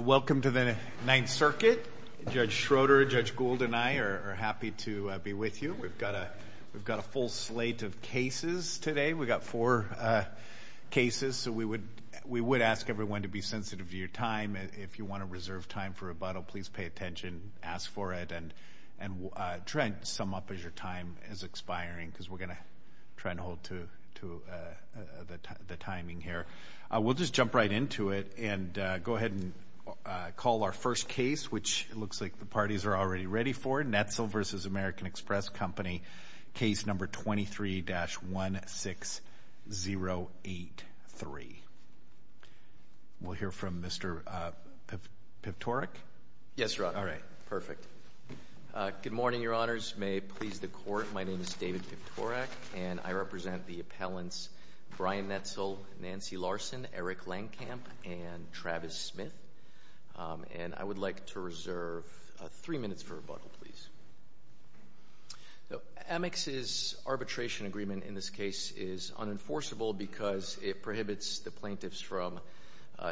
Welcome to the Ninth Circuit. Judge Schroeder, Judge Gould, and I are happy to be with you. We've got a full slate of cases today. We've got four cases, so we would ask everyone to be sensitive to your time. If you want to reserve time for rebuttal, please pay attention, ask for it, and try and sum up as your time is expiring, because we're going to try and hold to the timing here. We'll just jump right into it and go ahead and call our first case, which it looks like the parties are already ready for, Netzel v. American Express Company, case number 23-16083. We'll hear from Mr. Pivtorek. Yes, Your Honor. All right. Perfect. Good morning, Your Honors. May it please the Court, my name is David Pivtorek, and I represent the appellants Brian Netzel, Nancy Larson, Eric Lankamp, and Travis Smith. And I would like to reserve three minutes for rebuttal, please. Amex's arbitration agreement in this case is unenforceable because it prohibits the plaintiffs from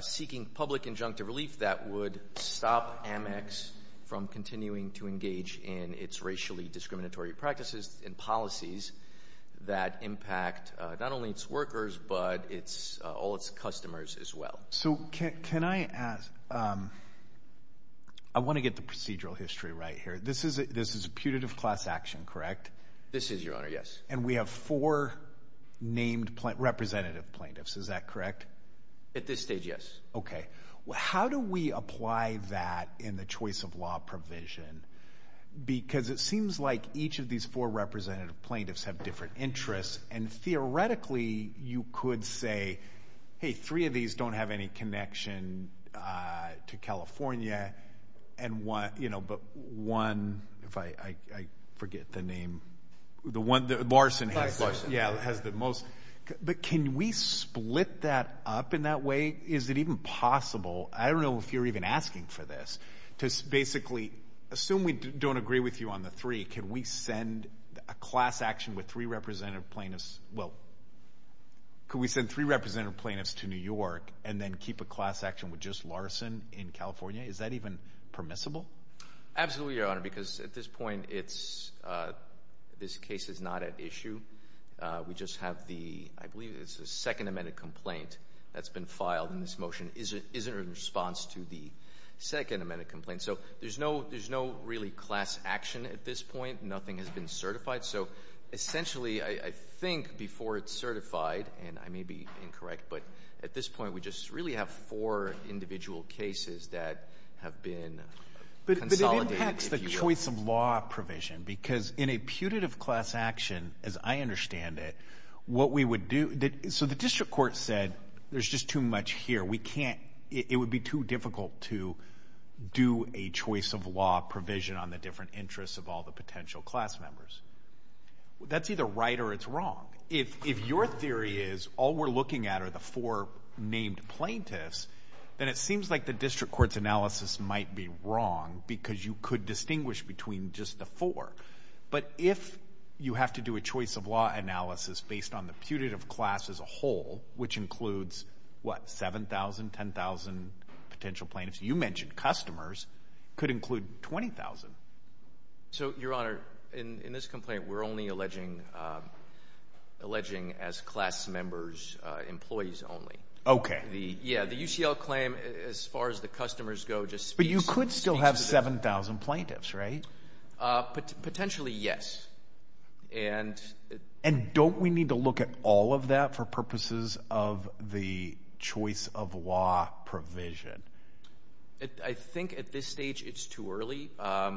seeking public injunctive relief that would stop Amex from continuing to engage in its racially discriminatory practices and policies that impact not only its workers, but all its customers as well. So can I ask, I want to get the procedural history right here. This is a putative class action, correct? This is, Your Honor, yes. And we have four named representative plaintiffs, is that correct? At this stage, yes. Okay. How do we apply that in the choice of law provision? Because it seems like each of these four representative plaintiffs have different interests, and theoretically you could say, hey, three of these don't have any connection to California, but one, if I forget the name, Larson has the most. But can we split that up in that way? Is it even possible, I don't know if you're even asking for this, to basically assume we don't agree with you on the three, can we send a class action with three representative plaintiffs, well, could we send three representative plaintiffs to New York and then keep a class action with just Larson in California? Is that even permissible? Absolutely, Your Honor, because at this point this case is not at issue. We just have the, I believe it's the second amended complaint that's been filed, and this motion isn't in response to the second amended complaint. So there's no really class action at this point. Nothing has been certified. So essentially I think before it's certified, and I may be incorrect, but at this point we just really have four individual cases that have been consolidated. But it impacts the choice of law provision. Because in a putative class action, as I understand it, what we would do, so the district court said there's just too much here, it would be too difficult to do a choice of law provision on the different interests of all the potential class members. That's either right or it's wrong. If your theory is all we're looking at are the four named plaintiffs, then it seems like the district court's analysis might be wrong because you could distinguish between just the four. But if you have to do a choice of law analysis based on the putative class as a whole, which includes, what, 7,000, 10,000 potential plaintiffs? You mentioned customers. It could include 20,000. So, Your Honor, in this complaint we're only alleging as class members employees only. Okay. Yeah, the UCL claim, as far as the customers go, just speaks to that. But you could still have 7,000 plaintiffs, right? Potentially, yes. And don't we need to look at all of that for purposes of the choice of law provision? I think at this stage it's too early. I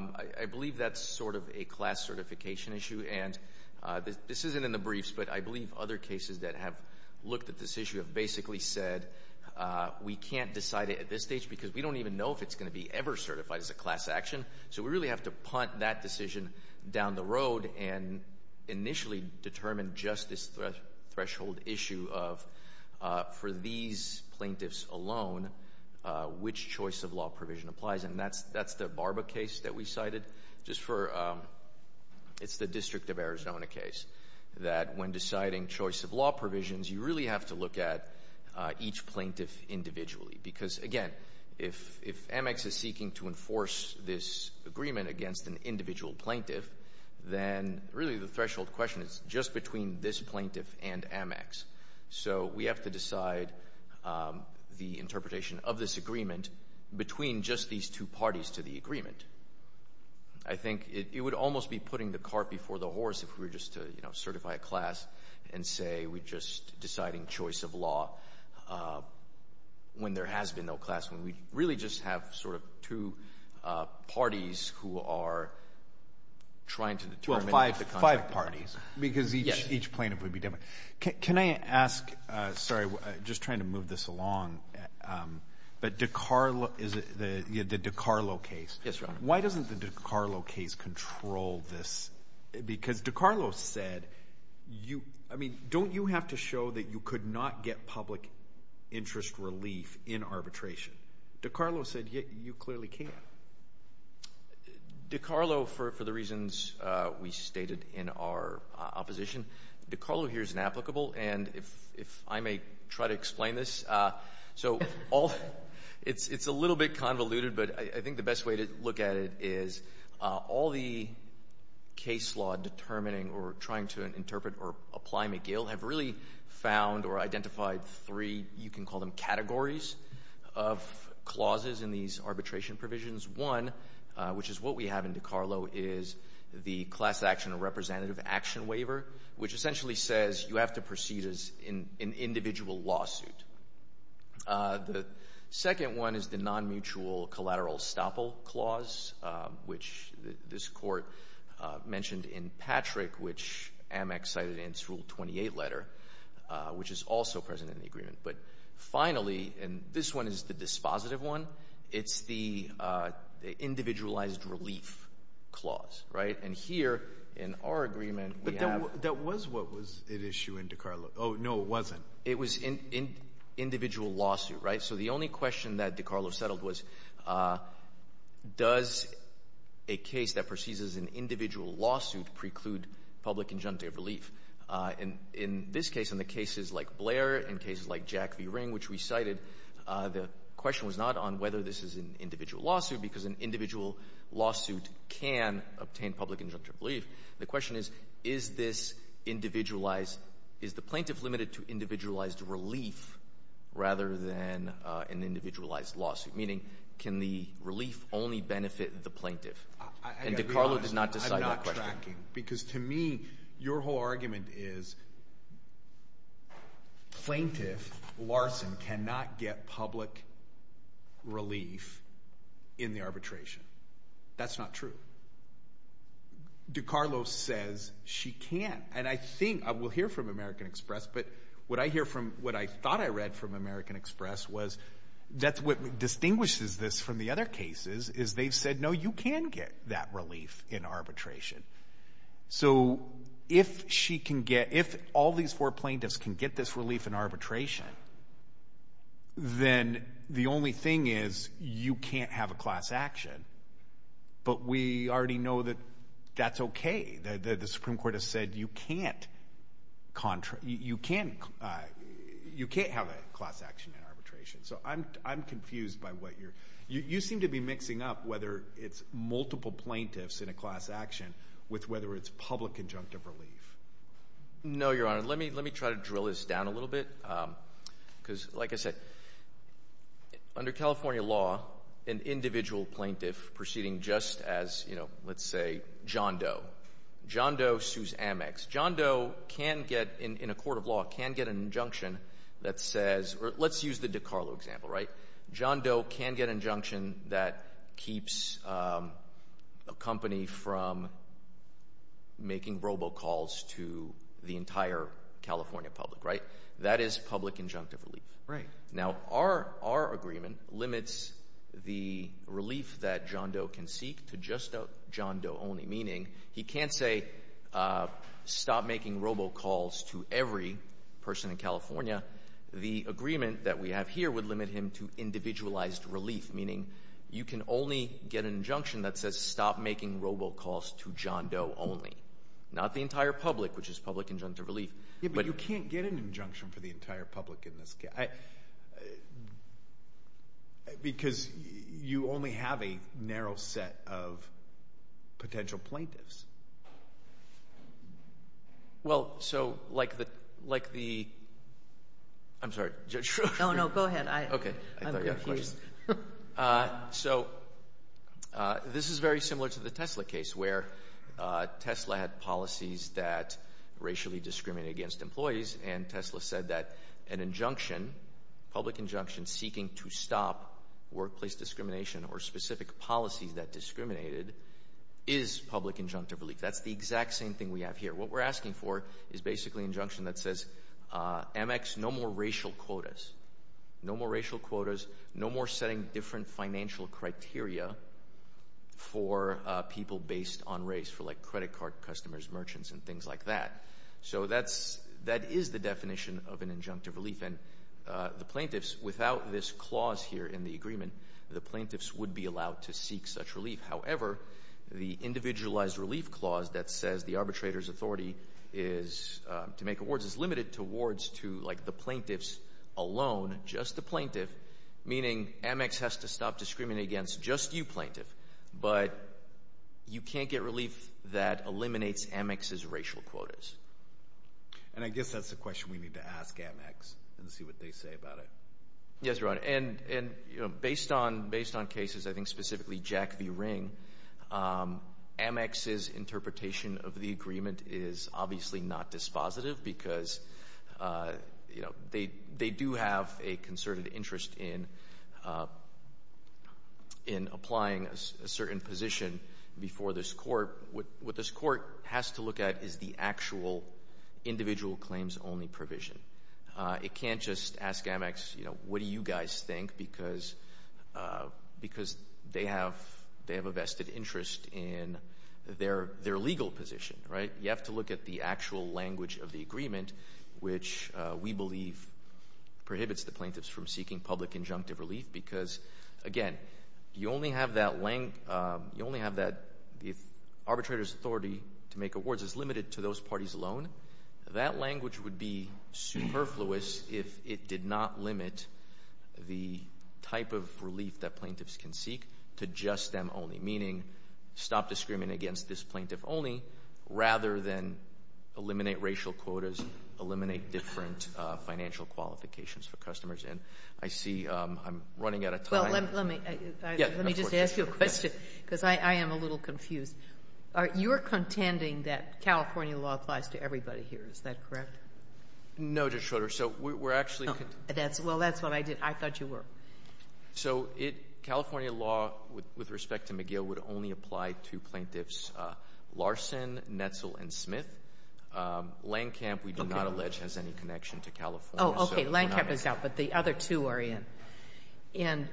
believe that's sort of a class certification issue. And this isn't in the briefs, but I believe other cases that have looked at this issue have basically said we can't decide it at this stage because we don't even know if it's going to be ever certified as a class action. So we really have to punt that decision down the road and initially determine just this threshold issue of, for these plaintiffs alone, which choice of law provision applies. And that's the Barba case that we cited just for the District of Arizona case, that when deciding choice of law provisions, you really have to look at each plaintiff individually. Because, again, if Amex is seeking to enforce this agreement against an individual plaintiff, then really the threshold question is just between this plaintiff and Amex. So we have to decide the interpretation of this agreement between just these two parties to the agreement. I think it would almost be putting the cart before the horse if we were just to certify a class and say we're just deciding choice of law when there has been no class, when we really just have sort of two parties who are trying to determine the contract. Well, five parties because each plaintiff would be different. Can I ask, sorry, just trying to move this along, but the DiCarlo case. Yes, Your Honor. Why doesn't the DiCarlo case control this? Because DiCarlo said you, I mean, don't you have to show that you could not get public interest relief in arbitration? DiCarlo said you clearly can't. DiCarlo, for the reasons we stated in our opposition, DiCarlo here is an applicable. And if I may try to explain this, so it's a little bit convoluted, but I think the best way to look at it is all the case law determining or trying to interpret or apply McGill have really found or identified three, you can call them categories, of clauses in these arbitration provisions. One, which is what we have in DiCarlo, is the class action or representative action waiver, which essentially says you have to proceed as an individual lawsuit. The second one is the non-mutual collateral estoppel clause, which this court mentioned in Patrick, which Amec cited in its Rule 28 letter, which is also present in the agreement. But finally, and this one is the dispositive one, it's the individualized relief clause, right? And here in our agreement, we have — But that was what was at issue in DiCarlo. Oh, no, it wasn't. It was individual lawsuit, right? So the only question that DiCarlo settled was, does a case that proceeds as an individual lawsuit preclude public injunctive relief? And in this case, in the cases like Blair and cases like Jack v. Ring, which we cited, the question was not on whether this is an individual lawsuit because an individual lawsuit can obtain public injunctive relief. The question is, is this individualized — is the plaintiff limited to individualized relief rather than an individualized lawsuit? Meaning, can the relief only benefit the plaintiff? And DiCarlo did not decide that question. I've got to be honest. I'm not tracking. Because to me, your whole argument is plaintiff, Larson, cannot get public relief in the arbitration. That's not true. DiCarlo says she can't. And I think — we'll hear from American Express, but what I hear from — what I thought I read from American Express was — that's what distinguishes this from the other cases is they've said, no, you can get that relief in arbitration. So, if she can get — if all these four plaintiffs can get this relief in arbitration, then the only thing is you can't have a class action. But we already know that that's okay. The Supreme Court has said you can't contract — you can't have a class action in arbitration. So, I'm confused by what you're — You seem to be mixing up whether it's multiple plaintiffs in a class action with whether it's public injunctive relief. No, Your Honor. Let me try to drill this down a little bit. Because, like I said, under California law, an individual plaintiff proceeding just as, you know, let's say John Doe. John Doe sues Amex. John Doe can get, in a court of law, can get an injunction that says — or let's use the DiCarlo example, right? John Doe can get an injunction that keeps a company from making robocalls to the entire California public, right? That is public injunctive relief. Right. Now, our agreement limits the relief that John Doe can seek to just John Doe only, meaning he can't say, stop making robocalls to every person in California. The agreement that we have here would limit him to individualized relief, meaning you can only get an injunction that says, stop making robocalls to John Doe only. Not the entire public, which is public injunctive relief. Yeah, but you can't get an injunction for the entire public in this case. Because you only have a narrow set of potential plaintiffs. Well, so, like the — I'm sorry. Oh, no. Go ahead. I'm confused. Okay. I thought you had a question. So, this is very similar to the Tesla case, where Tesla had policies that racially discriminated against employees, and Tesla said that an injunction, public injunction seeking to stop same thing we have here. What we're asking for is basically an injunction that says, MX, no more racial quotas. No more racial quotas. No more setting different financial criteria for people based on race, for like credit card customers, merchants, and things like that. So, that is the definition of an injunctive relief. And the plaintiffs, without this clause here in the agreement, the plaintiffs would be allowed to seek such relief. However, the individualized relief clause that says the arbitrator's authority is to make awards is limited to awards to like the plaintiffs alone, just the plaintiff. Meaning, MX has to stop discriminating against just you, plaintiff. But you can't get relief that eliminates MX's racial quotas. And I guess that's the question we need to ask MX and see what they say about it. Yes, Your Honor. And, you know, based on cases, I think specifically Jack v. Ring, MX's interpretation of the agreement is obviously not dispositive because, you know, they do have a concerted interest in applying a certain position before this court. What this court has to look at is the actual individual claims only provision. It can't just ask MX, you know, what do you guys think because they have a vested interest in their legal position, right? You have to look at the actual language of the agreement, which we believe prohibits the plaintiffs from seeking public injunctive relief because, again, you only have that if arbitrator's authority to make awards is limited to those parties alone, that language would be superfluous if it did not limit the type of relief that plaintiffs can seek to just them only, meaning stop discriminating against this plaintiff only rather than eliminate racial quotas, eliminate different financial qualifications for customers. And I see I'm running out of time. Well, let me just ask you a question because I am a little confused. You're contending that California law applies to everybody here. Is that correct? No, Judge Schroeder. So we're actually contending. Well, that's what I did. I thought you were. So California law with respect to McGill would only apply to plaintiffs Larson, Netzel, and Smith. Landcamp, we do not allege, has any connection to California. Landcamp is out, but the other two are in. And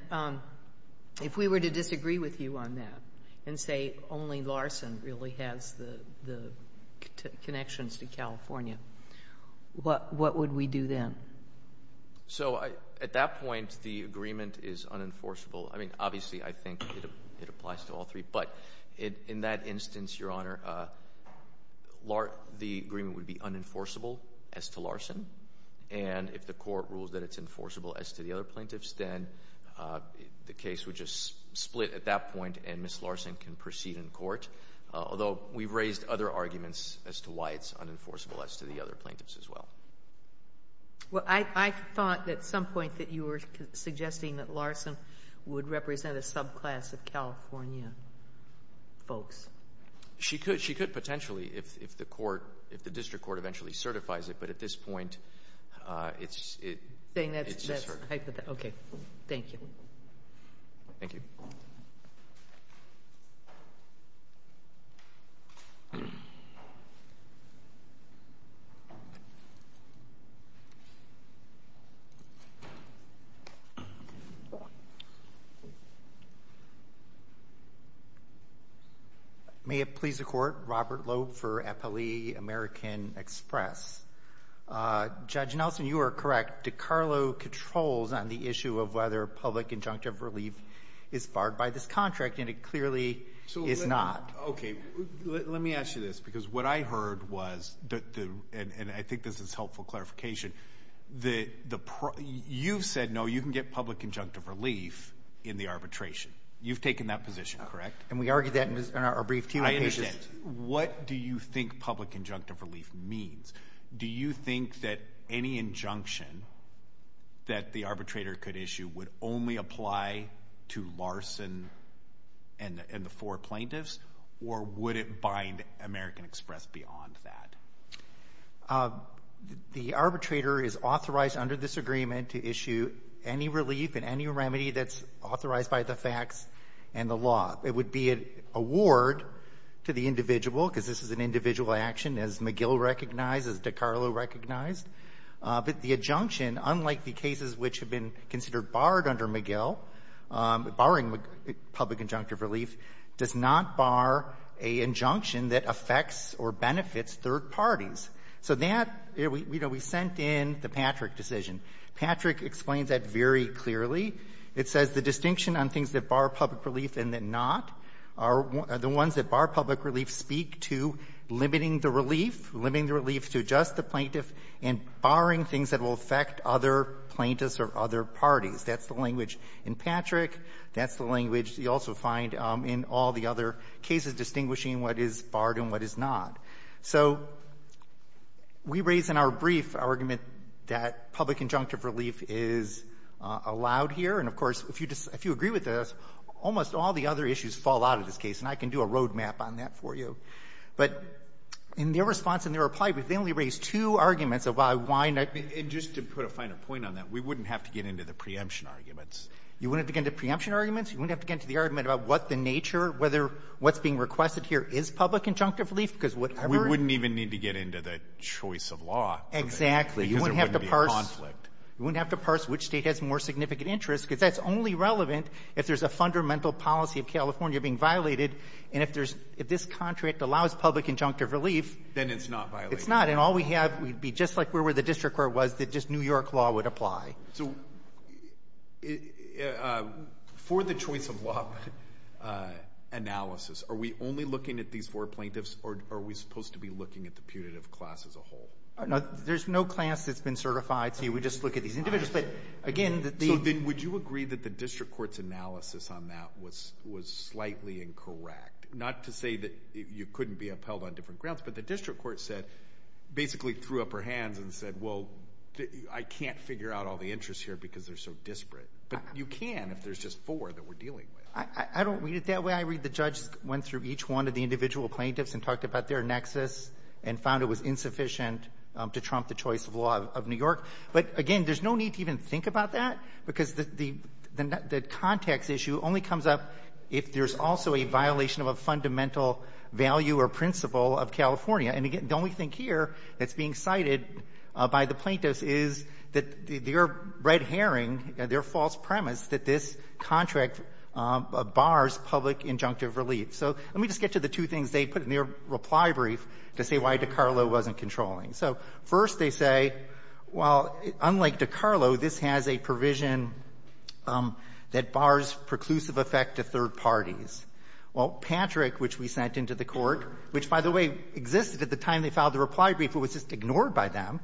if we were to disagree with you on that and say only Larson really has the connections to California, what would we do then? So at that point, the agreement is unenforceable. I mean, obviously, I think it applies to all three. But in that instance, Your Honor, the agreement would be unenforceable as to Larson. And if the court rules that it's enforceable as to the other plaintiffs, then the case would just split at that point and Ms. Larson can proceed in court, although we've raised other arguments as to why it's unenforceable as to the other plaintiffs as well. Well, I thought at some point that you were suggesting that Larson would represent a subclass of California folks. She could. She could potentially if the court, if the district court eventually certifies it. But at this point, it's just her. Saying that's hypothetical. Okay. Thank you. Thank you. Thank you. May it please the Court. Robert Loeb for Eppley American Express. Judge Nelson, you are correct. DiCarlo controls on the issue of whether public injunctive relief is barred by this state. It's not. Okay. Let me ask you this, because what I heard was, and I think this is helpful clarification, you've said no, you can get public injunctive relief in the arbitration. You've taken that position, correct? And we argued that in our brief team of cases. I understand. What do you think public injunctive relief means? Do you think that any injunction that the arbitrator could issue would only apply to Larson and the four plaintiffs? Or would it bind American Express beyond that? The arbitrator is authorized under this agreement to issue any relief and any remedy that's authorized by the facts and the law. It would be an award to the individual, because this is an individual action, as McGill recognized, as DiCarlo recognized. But the injunction, unlike the cases which have been considered barred under McGill, barring public injunctive relief, does not bar an injunction that affects or benefits third parties. So that, you know, we sent in the Patrick decision. Patrick explains that very clearly. It says the distinction on things that bar public relief and that not are the ones that bar public relief speak to limiting the relief, limiting the relief to just the plaintiff, and barring things that will affect other plaintiffs or other parties. That's the language in Patrick. That's the language you also find in all the other cases distinguishing what is barred and what is not. So we raise in our brief argument that public injunctive relief is allowed here. And, of course, if you agree with this, almost all the other issues fall out of this case, and I can do a road map on that for you. But in their response and their reply, they only raised two arguments of why, why not be ---- Alito, and just to put a finer point on that, we wouldn't have to get into the preemption arguments. You wouldn't have to get into the preemption arguments? You wouldn't have to get into the argument about what the nature, whether what's being requested here is public injunctive relief? Because whatever it ---- We wouldn't even need to get into the choice of law. Exactly. Because there wouldn't be a conflict. You wouldn't have to parse which State has more significant interest, because that's only relevant if there's a fundamental policy of California being violated. And if there's ---- if this contract allows public injunctive relief ---- Then it's not violating. It's not. And all we have would be just like where the district court was, that just New York law would apply. So for the choice of law analysis, are we only looking at these four plaintiffs, or are we supposed to be looking at the putative class as a whole? There's no class that's been certified, so you would just look at these individuals. But, again, the ---- Then would you agree that the district court's analysis on that was slightly incorrect? Not to say that you couldn't be upheld on different grounds, but the district court said, basically threw up her hands and said, well, I can't figure out all the interests here because they're so disparate. But you can if there's just four that we're dealing with. I don't read it that way. I read the judge went through each one of the individual plaintiffs and talked about their nexus and found it was insufficient to trump the choice of law of New York. But, again, there's no need to even think about that, because the context issue only comes up if there's also a violation of a fundamental value or principle of California. And, again, the only thing here that's being cited by the plaintiffs is that their red herring, their false premise that this contract bars public injunctive relief. So let me just get to the two things they put in their reply brief to say why DeCarlo wasn't controlling. So, first, they say, well, unlike DeCarlo, this has a provision that bars preclusive effect to third parties. Well, Patrick, which we sent into the Court, which, by the way, existed at the time they filed the reply brief, but was just ignored by them,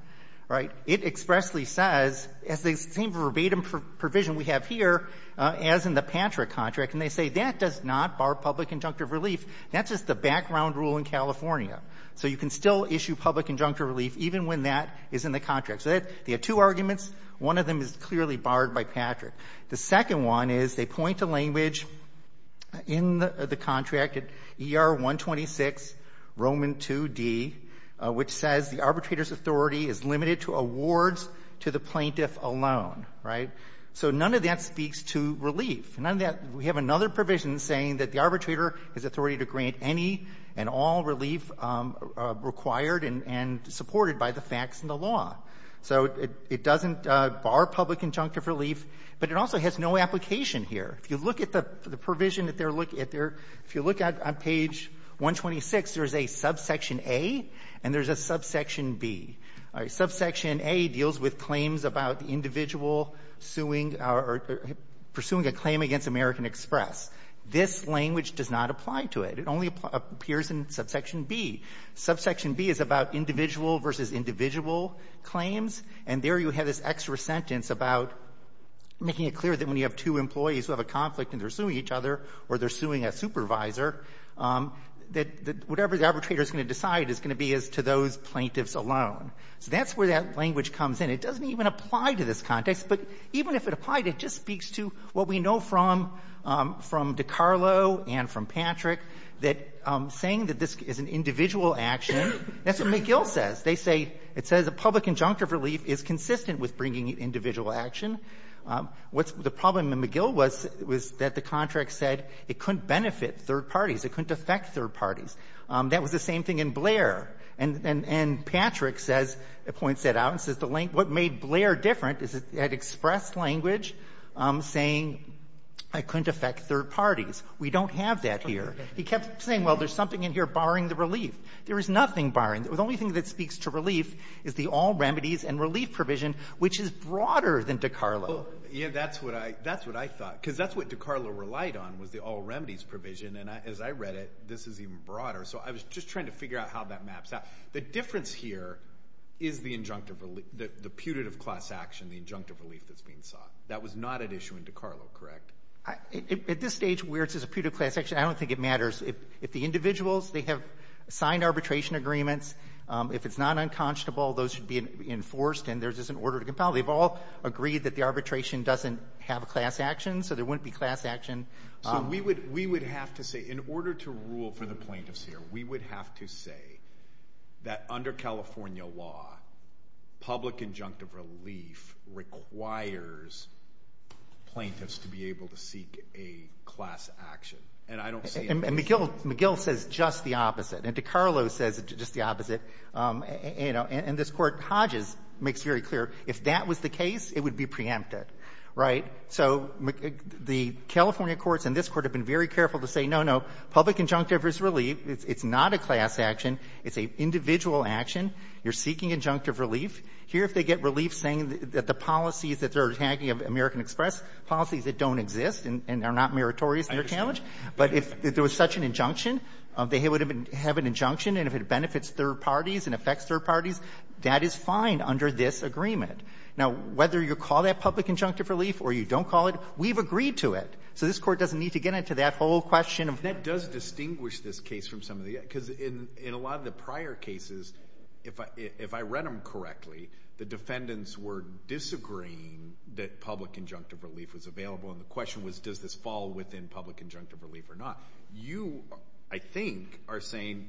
right, it expressly says, as the same verbatim provision we have here as in the Patrick contract, and they say that does not bar public injunctive relief. That's just the background rule in California. So you can still issue public injunctive relief even when that is in the contract. So they have two arguments. One of them is clearly barred by Patrick. The second one is they point to language in the contract, ER-126, Roman 2D, which says the arbitrator's authority is limited to awards to the plaintiff alone, right? So none of that speaks to relief. None of that we have another provision saying that the arbitrator has authority to grant any and all relief required and supported by the facts and the law. So it doesn't bar public injunctive relief, but it also has no application here. If you look at the provision that they're looking at there, if you look at page 126, there's a subsection A and there's a subsection B. Subsection A deals with claims about the individual suing or pursuing a claim against American Express. This language does not apply to it. It only appears in subsection B. Subsection B is about individual versus individual claims, and there you have this extra sentence about making it clear that when you have two employees who have a conflict and they're suing each other or they're suing each other, the arbitrator's going to decide is going to be as to those plaintiffs alone. So that's where that language comes in. It doesn't even apply to this context, but even if it applied, it just speaks to what we know from DeCarlo and from Patrick, that saying that this is an individual action, that's what McGill says. They say, it says a public injunctive relief is consistent with bringing individual action. The problem in McGill was that the contract said it couldn't benefit third parties. That was the same thing in Blair. And Patrick says, points that out and says what made Blair different is it had express language saying it couldn't affect third parties. We don't have that here. He kept saying, well, there's something in here barring the relief. There is nothing barring. The only thing that speaks to relief is the all remedies and relief provision, which is broader than DeCarlo. Yeah, that's what I thought, because that's what DeCarlo relied on was the all remedies being broader. So I was just trying to figure out how that maps out. The difference here is the injunctive relief, the putative class action, the injunctive relief that's being sought. That was not at issue in DeCarlo, correct? At this stage, where it says putative class action, I don't think it matters. If the individuals, they have signed arbitration agreements. If it's not unconscionable, those should be enforced and there's just an order to compel. They've all agreed that the arbitration doesn't have a class action, so there wouldn't be class action. So we would have to say, in order to rule for the plaintiffs here, we would have to say that under California law, public injunctive relief requires plaintiffs to be able to seek a class action. And I don't see it. And McGill says just the opposite. And DeCarlo says just the opposite. And this Court Hodges makes very clear, if that was the case, it would be preempted. Right? So the California courts and this Court have been very careful to say, no, no, public injunctive is relief. It's not a class action. It's an individual action. You're seeking injunctive relief. Here, if they get relief saying that the policies that they're attacking of American Express, policies that don't exist and are not meritorious in their challenge, but if there was such an injunction, they would have an injunction, and if it benefits third parties and affects third parties, that is fine under this agreement. Now, whether you call that public injunctive relief or you don't call it, we've agreed to it. So this Court doesn't need to get into that whole question of that. Alito, that does distinguish this case from some of the other, because in a lot of the prior cases, if I read them correctly, the defendants were disagreeing that public injunctive relief was available, and the question was, does this fall within public injunctive relief or not? You, I think, are saying,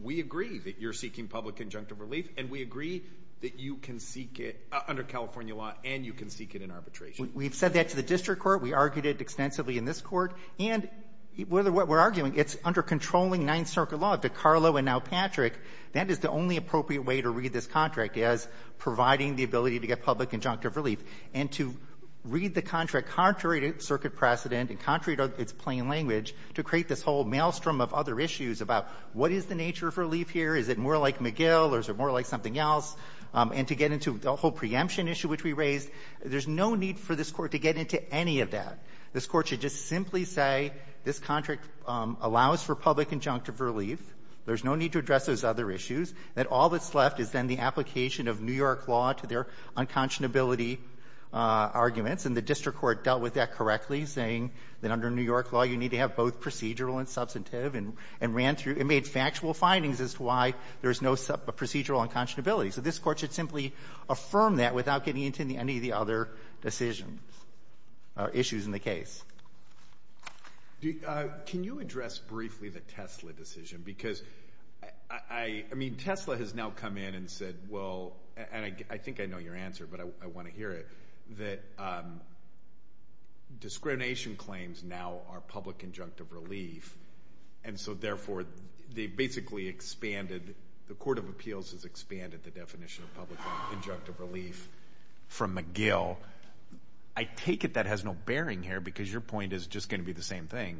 we agree that you're seeking public injunctive relief, and we agree that you can seek it under California law and you can seek it in arbitration. We've said that to the district court. We argued it extensively in this Court. And whether what we're arguing, it's under controlling Ninth Circuit law, DeCarlo and now Patrick, that is the only appropriate way to read this contract is providing the ability to get public injunctive relief. And to read the contract contrary to Circuit precedent and contrary to its plain language, to create this whole maelstrom of other issues about what is the nature of relief here? Is it more like McGill or is it more like something else? And to get into the whole preemption issue which we raised, there's no need for this Court to get into any of that. This Court should just simply say this contract allows for public injunctive relief. There's no need to address those other issues. And all that's left is then the application of New York law to their unconscionability arguments. And the district court dealt with that correctly, saying that under New York law, you need to have both procedural and substantive, and ran through. It made factual findings as to why there's no procedural unconscionability. So this Court should simply affirm that without getting into any of the other decisions or issues in the case. Can you address briefly the Tesla decision? Because I mean, Tesla has now come in and said, well, and I think I know your answer, but I want to hear it, that discrimination claims now are public injunctive relief. And so, therefore, they basically expanded, the court of appeals has expanded the definition of public injunctive relief from McGill. I take it that has no bearing here, because your point is just going to be the same thing.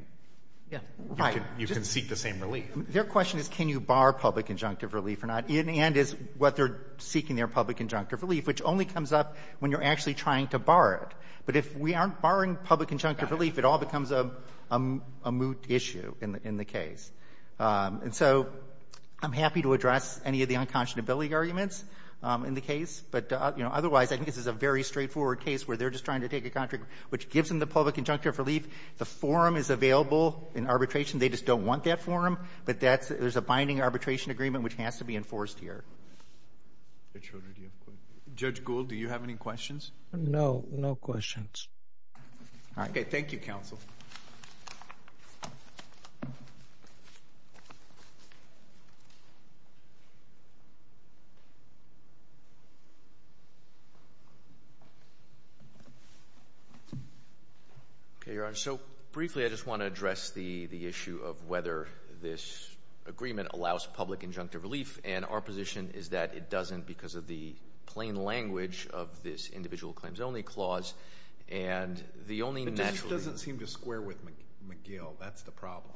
Yeah. Right. You can seek the same relief. Their question is can you bar public injunctive relief or not, and is what they're seeking there public injunctive relief, which only comes up when you're actually trying to bar it. But if we aren't barring public injunctive relief, it all becomes a moot issue in the case. And so I'm happy to address any of the unconscionability arguments in the case. But, you know, otherwise, I think this is a very straightforward case where they're just trying to take a contract which gives them the public injunctive relief. The forum is available in arbitration. They just don't want that forum. But that's the binding arbitration agreement which has to be enforced here. Judge Gould, do you have any questions? No. No questions. Okay. Thank you, counsel. Okay, Your Honor. So briefly, I just want to address the issue of whether this agreement allows public injunctive relief. And our position is that it doesn't because of the plain language of this individual claims only clause. But this doesn't seem to square with McGill. That's the problem.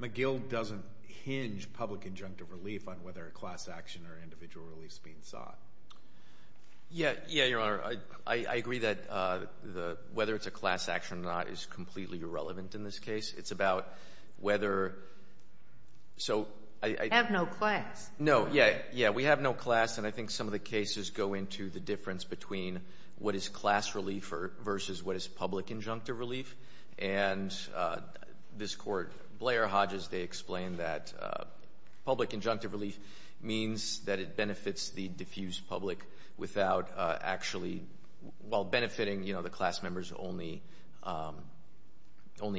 McGill doesn't hinge public injunctive relief on whether a class action or individual relief is being sought. Yeah, Your Honor. I agree that whether it's a class action or not is completely irrelevant in this case. It's about whether so I have no class. No. Yeah. Yeah. We have no class. And I think some of the cases go into the difference between what is class relief versus what is public injunctive relief. And this Court, Blair, Hodges, they explain that public injunctive relief means that it benefits the diffuse public without actually while benefiting, you know, only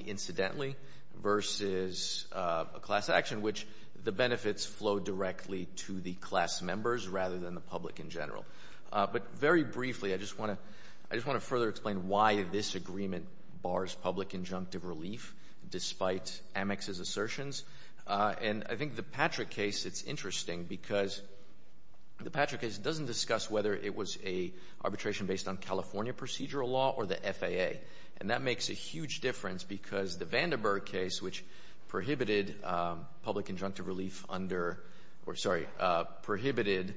incidentally versus a class action, which the benefits flow directly to the class members rather than the public in general. But very briefly, I just want to further explain why this agreement bars public injunctive relief despite Amex's assertions. And I think the Patrick case, it's interesting because the Patrick case doesn't discuss whether it was an arbitration based on California procedural law or the FAA. And that makes a huge difference because the Vandenberg case, which prohibited public injunctive relief under or, sorry, prohibited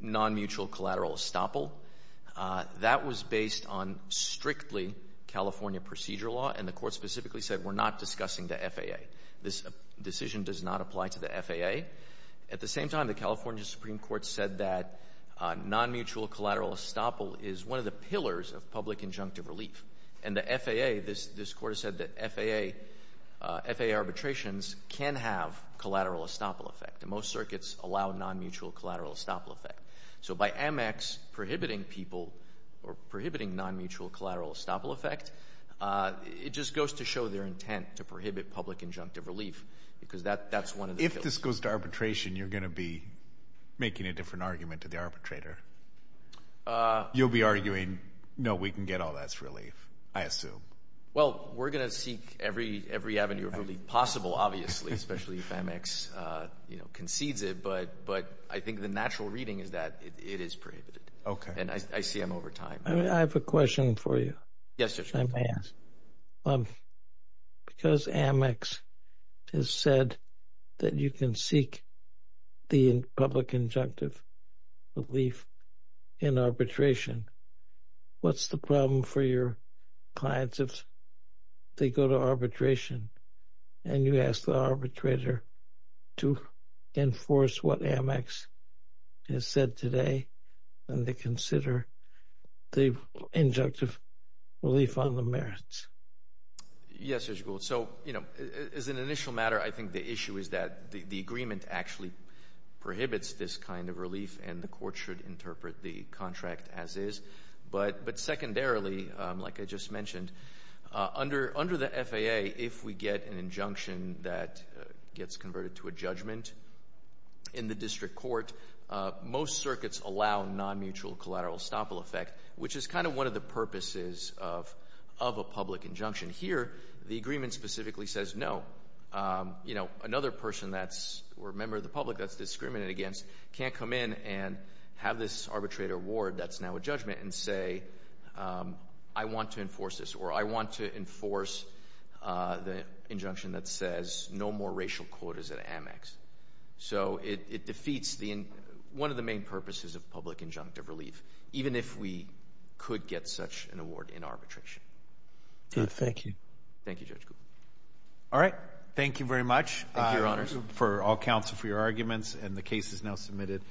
non-mutual collateral estoppel, that was based on strictly California procedural law. And the Court specifically said we're not discussing the FAA. This decision does not apply to the FAA. At the same time, the California Supreme Court said that non-mutual collateral estoppel is one of the pillars of public injunctive relief. And the FAA, this Court has said that FAA arbitrations can have collateral estoppel effect. And most circuits allow non-mutual collateral estoppel effect. So by Amex prohibiting people or prohibiting non-mutual collateral estoppel effect, it just goes to show their intent to prohibit public injunctive relief because that's one of the pillars. If this goes to arbitration, you're going to be making a different argument to the arbitrator. You'll be arguing, no, we can get all that relief, I assume. Well, we're going to seek every avenue of relief possible, obviously, especially if Amex concedes it. But I think the natural reading is that it is prohibited. Okay. And I see them over time. I have a question for you. Yes, Judge. Because Amex has said that you can seek the public injunctive relief in arbitration, what's the problem for your clients if they go to arbitration and you ask the arbitrator to enforce what Amex has said today and they consider the injunctive relief on the merits? Yes, Judge Gould. So, you know, as an initial matter, I think the issue is that the agreement actually prohibits this kind of relief and the court should interpret the contract as is. But secondarily, like I just mentioned, under the FAA, if we get an injunction that gets converted to a judgment in the district court, most circuits allow non-mutual collateral estoppel effect, which is kind of one of the purposes of a public injunction. Here, the agreement specifically says no. You know, another person that's a member of the public that's discriminated against can't come in and have this arbitrator award that's now a judgment and say, I want to enforce this, or I want to enforce the injunction that says no more racial quotas at Amex. So it defeats one of the main purposes of public injunctive relief, even if we could get such an award in arbitration. Good. Thank you. Thank you, Judge Gould. All right. Thank you very much. Thank you, Your Honors. For all counsel for your arguments, and the case is now submitted.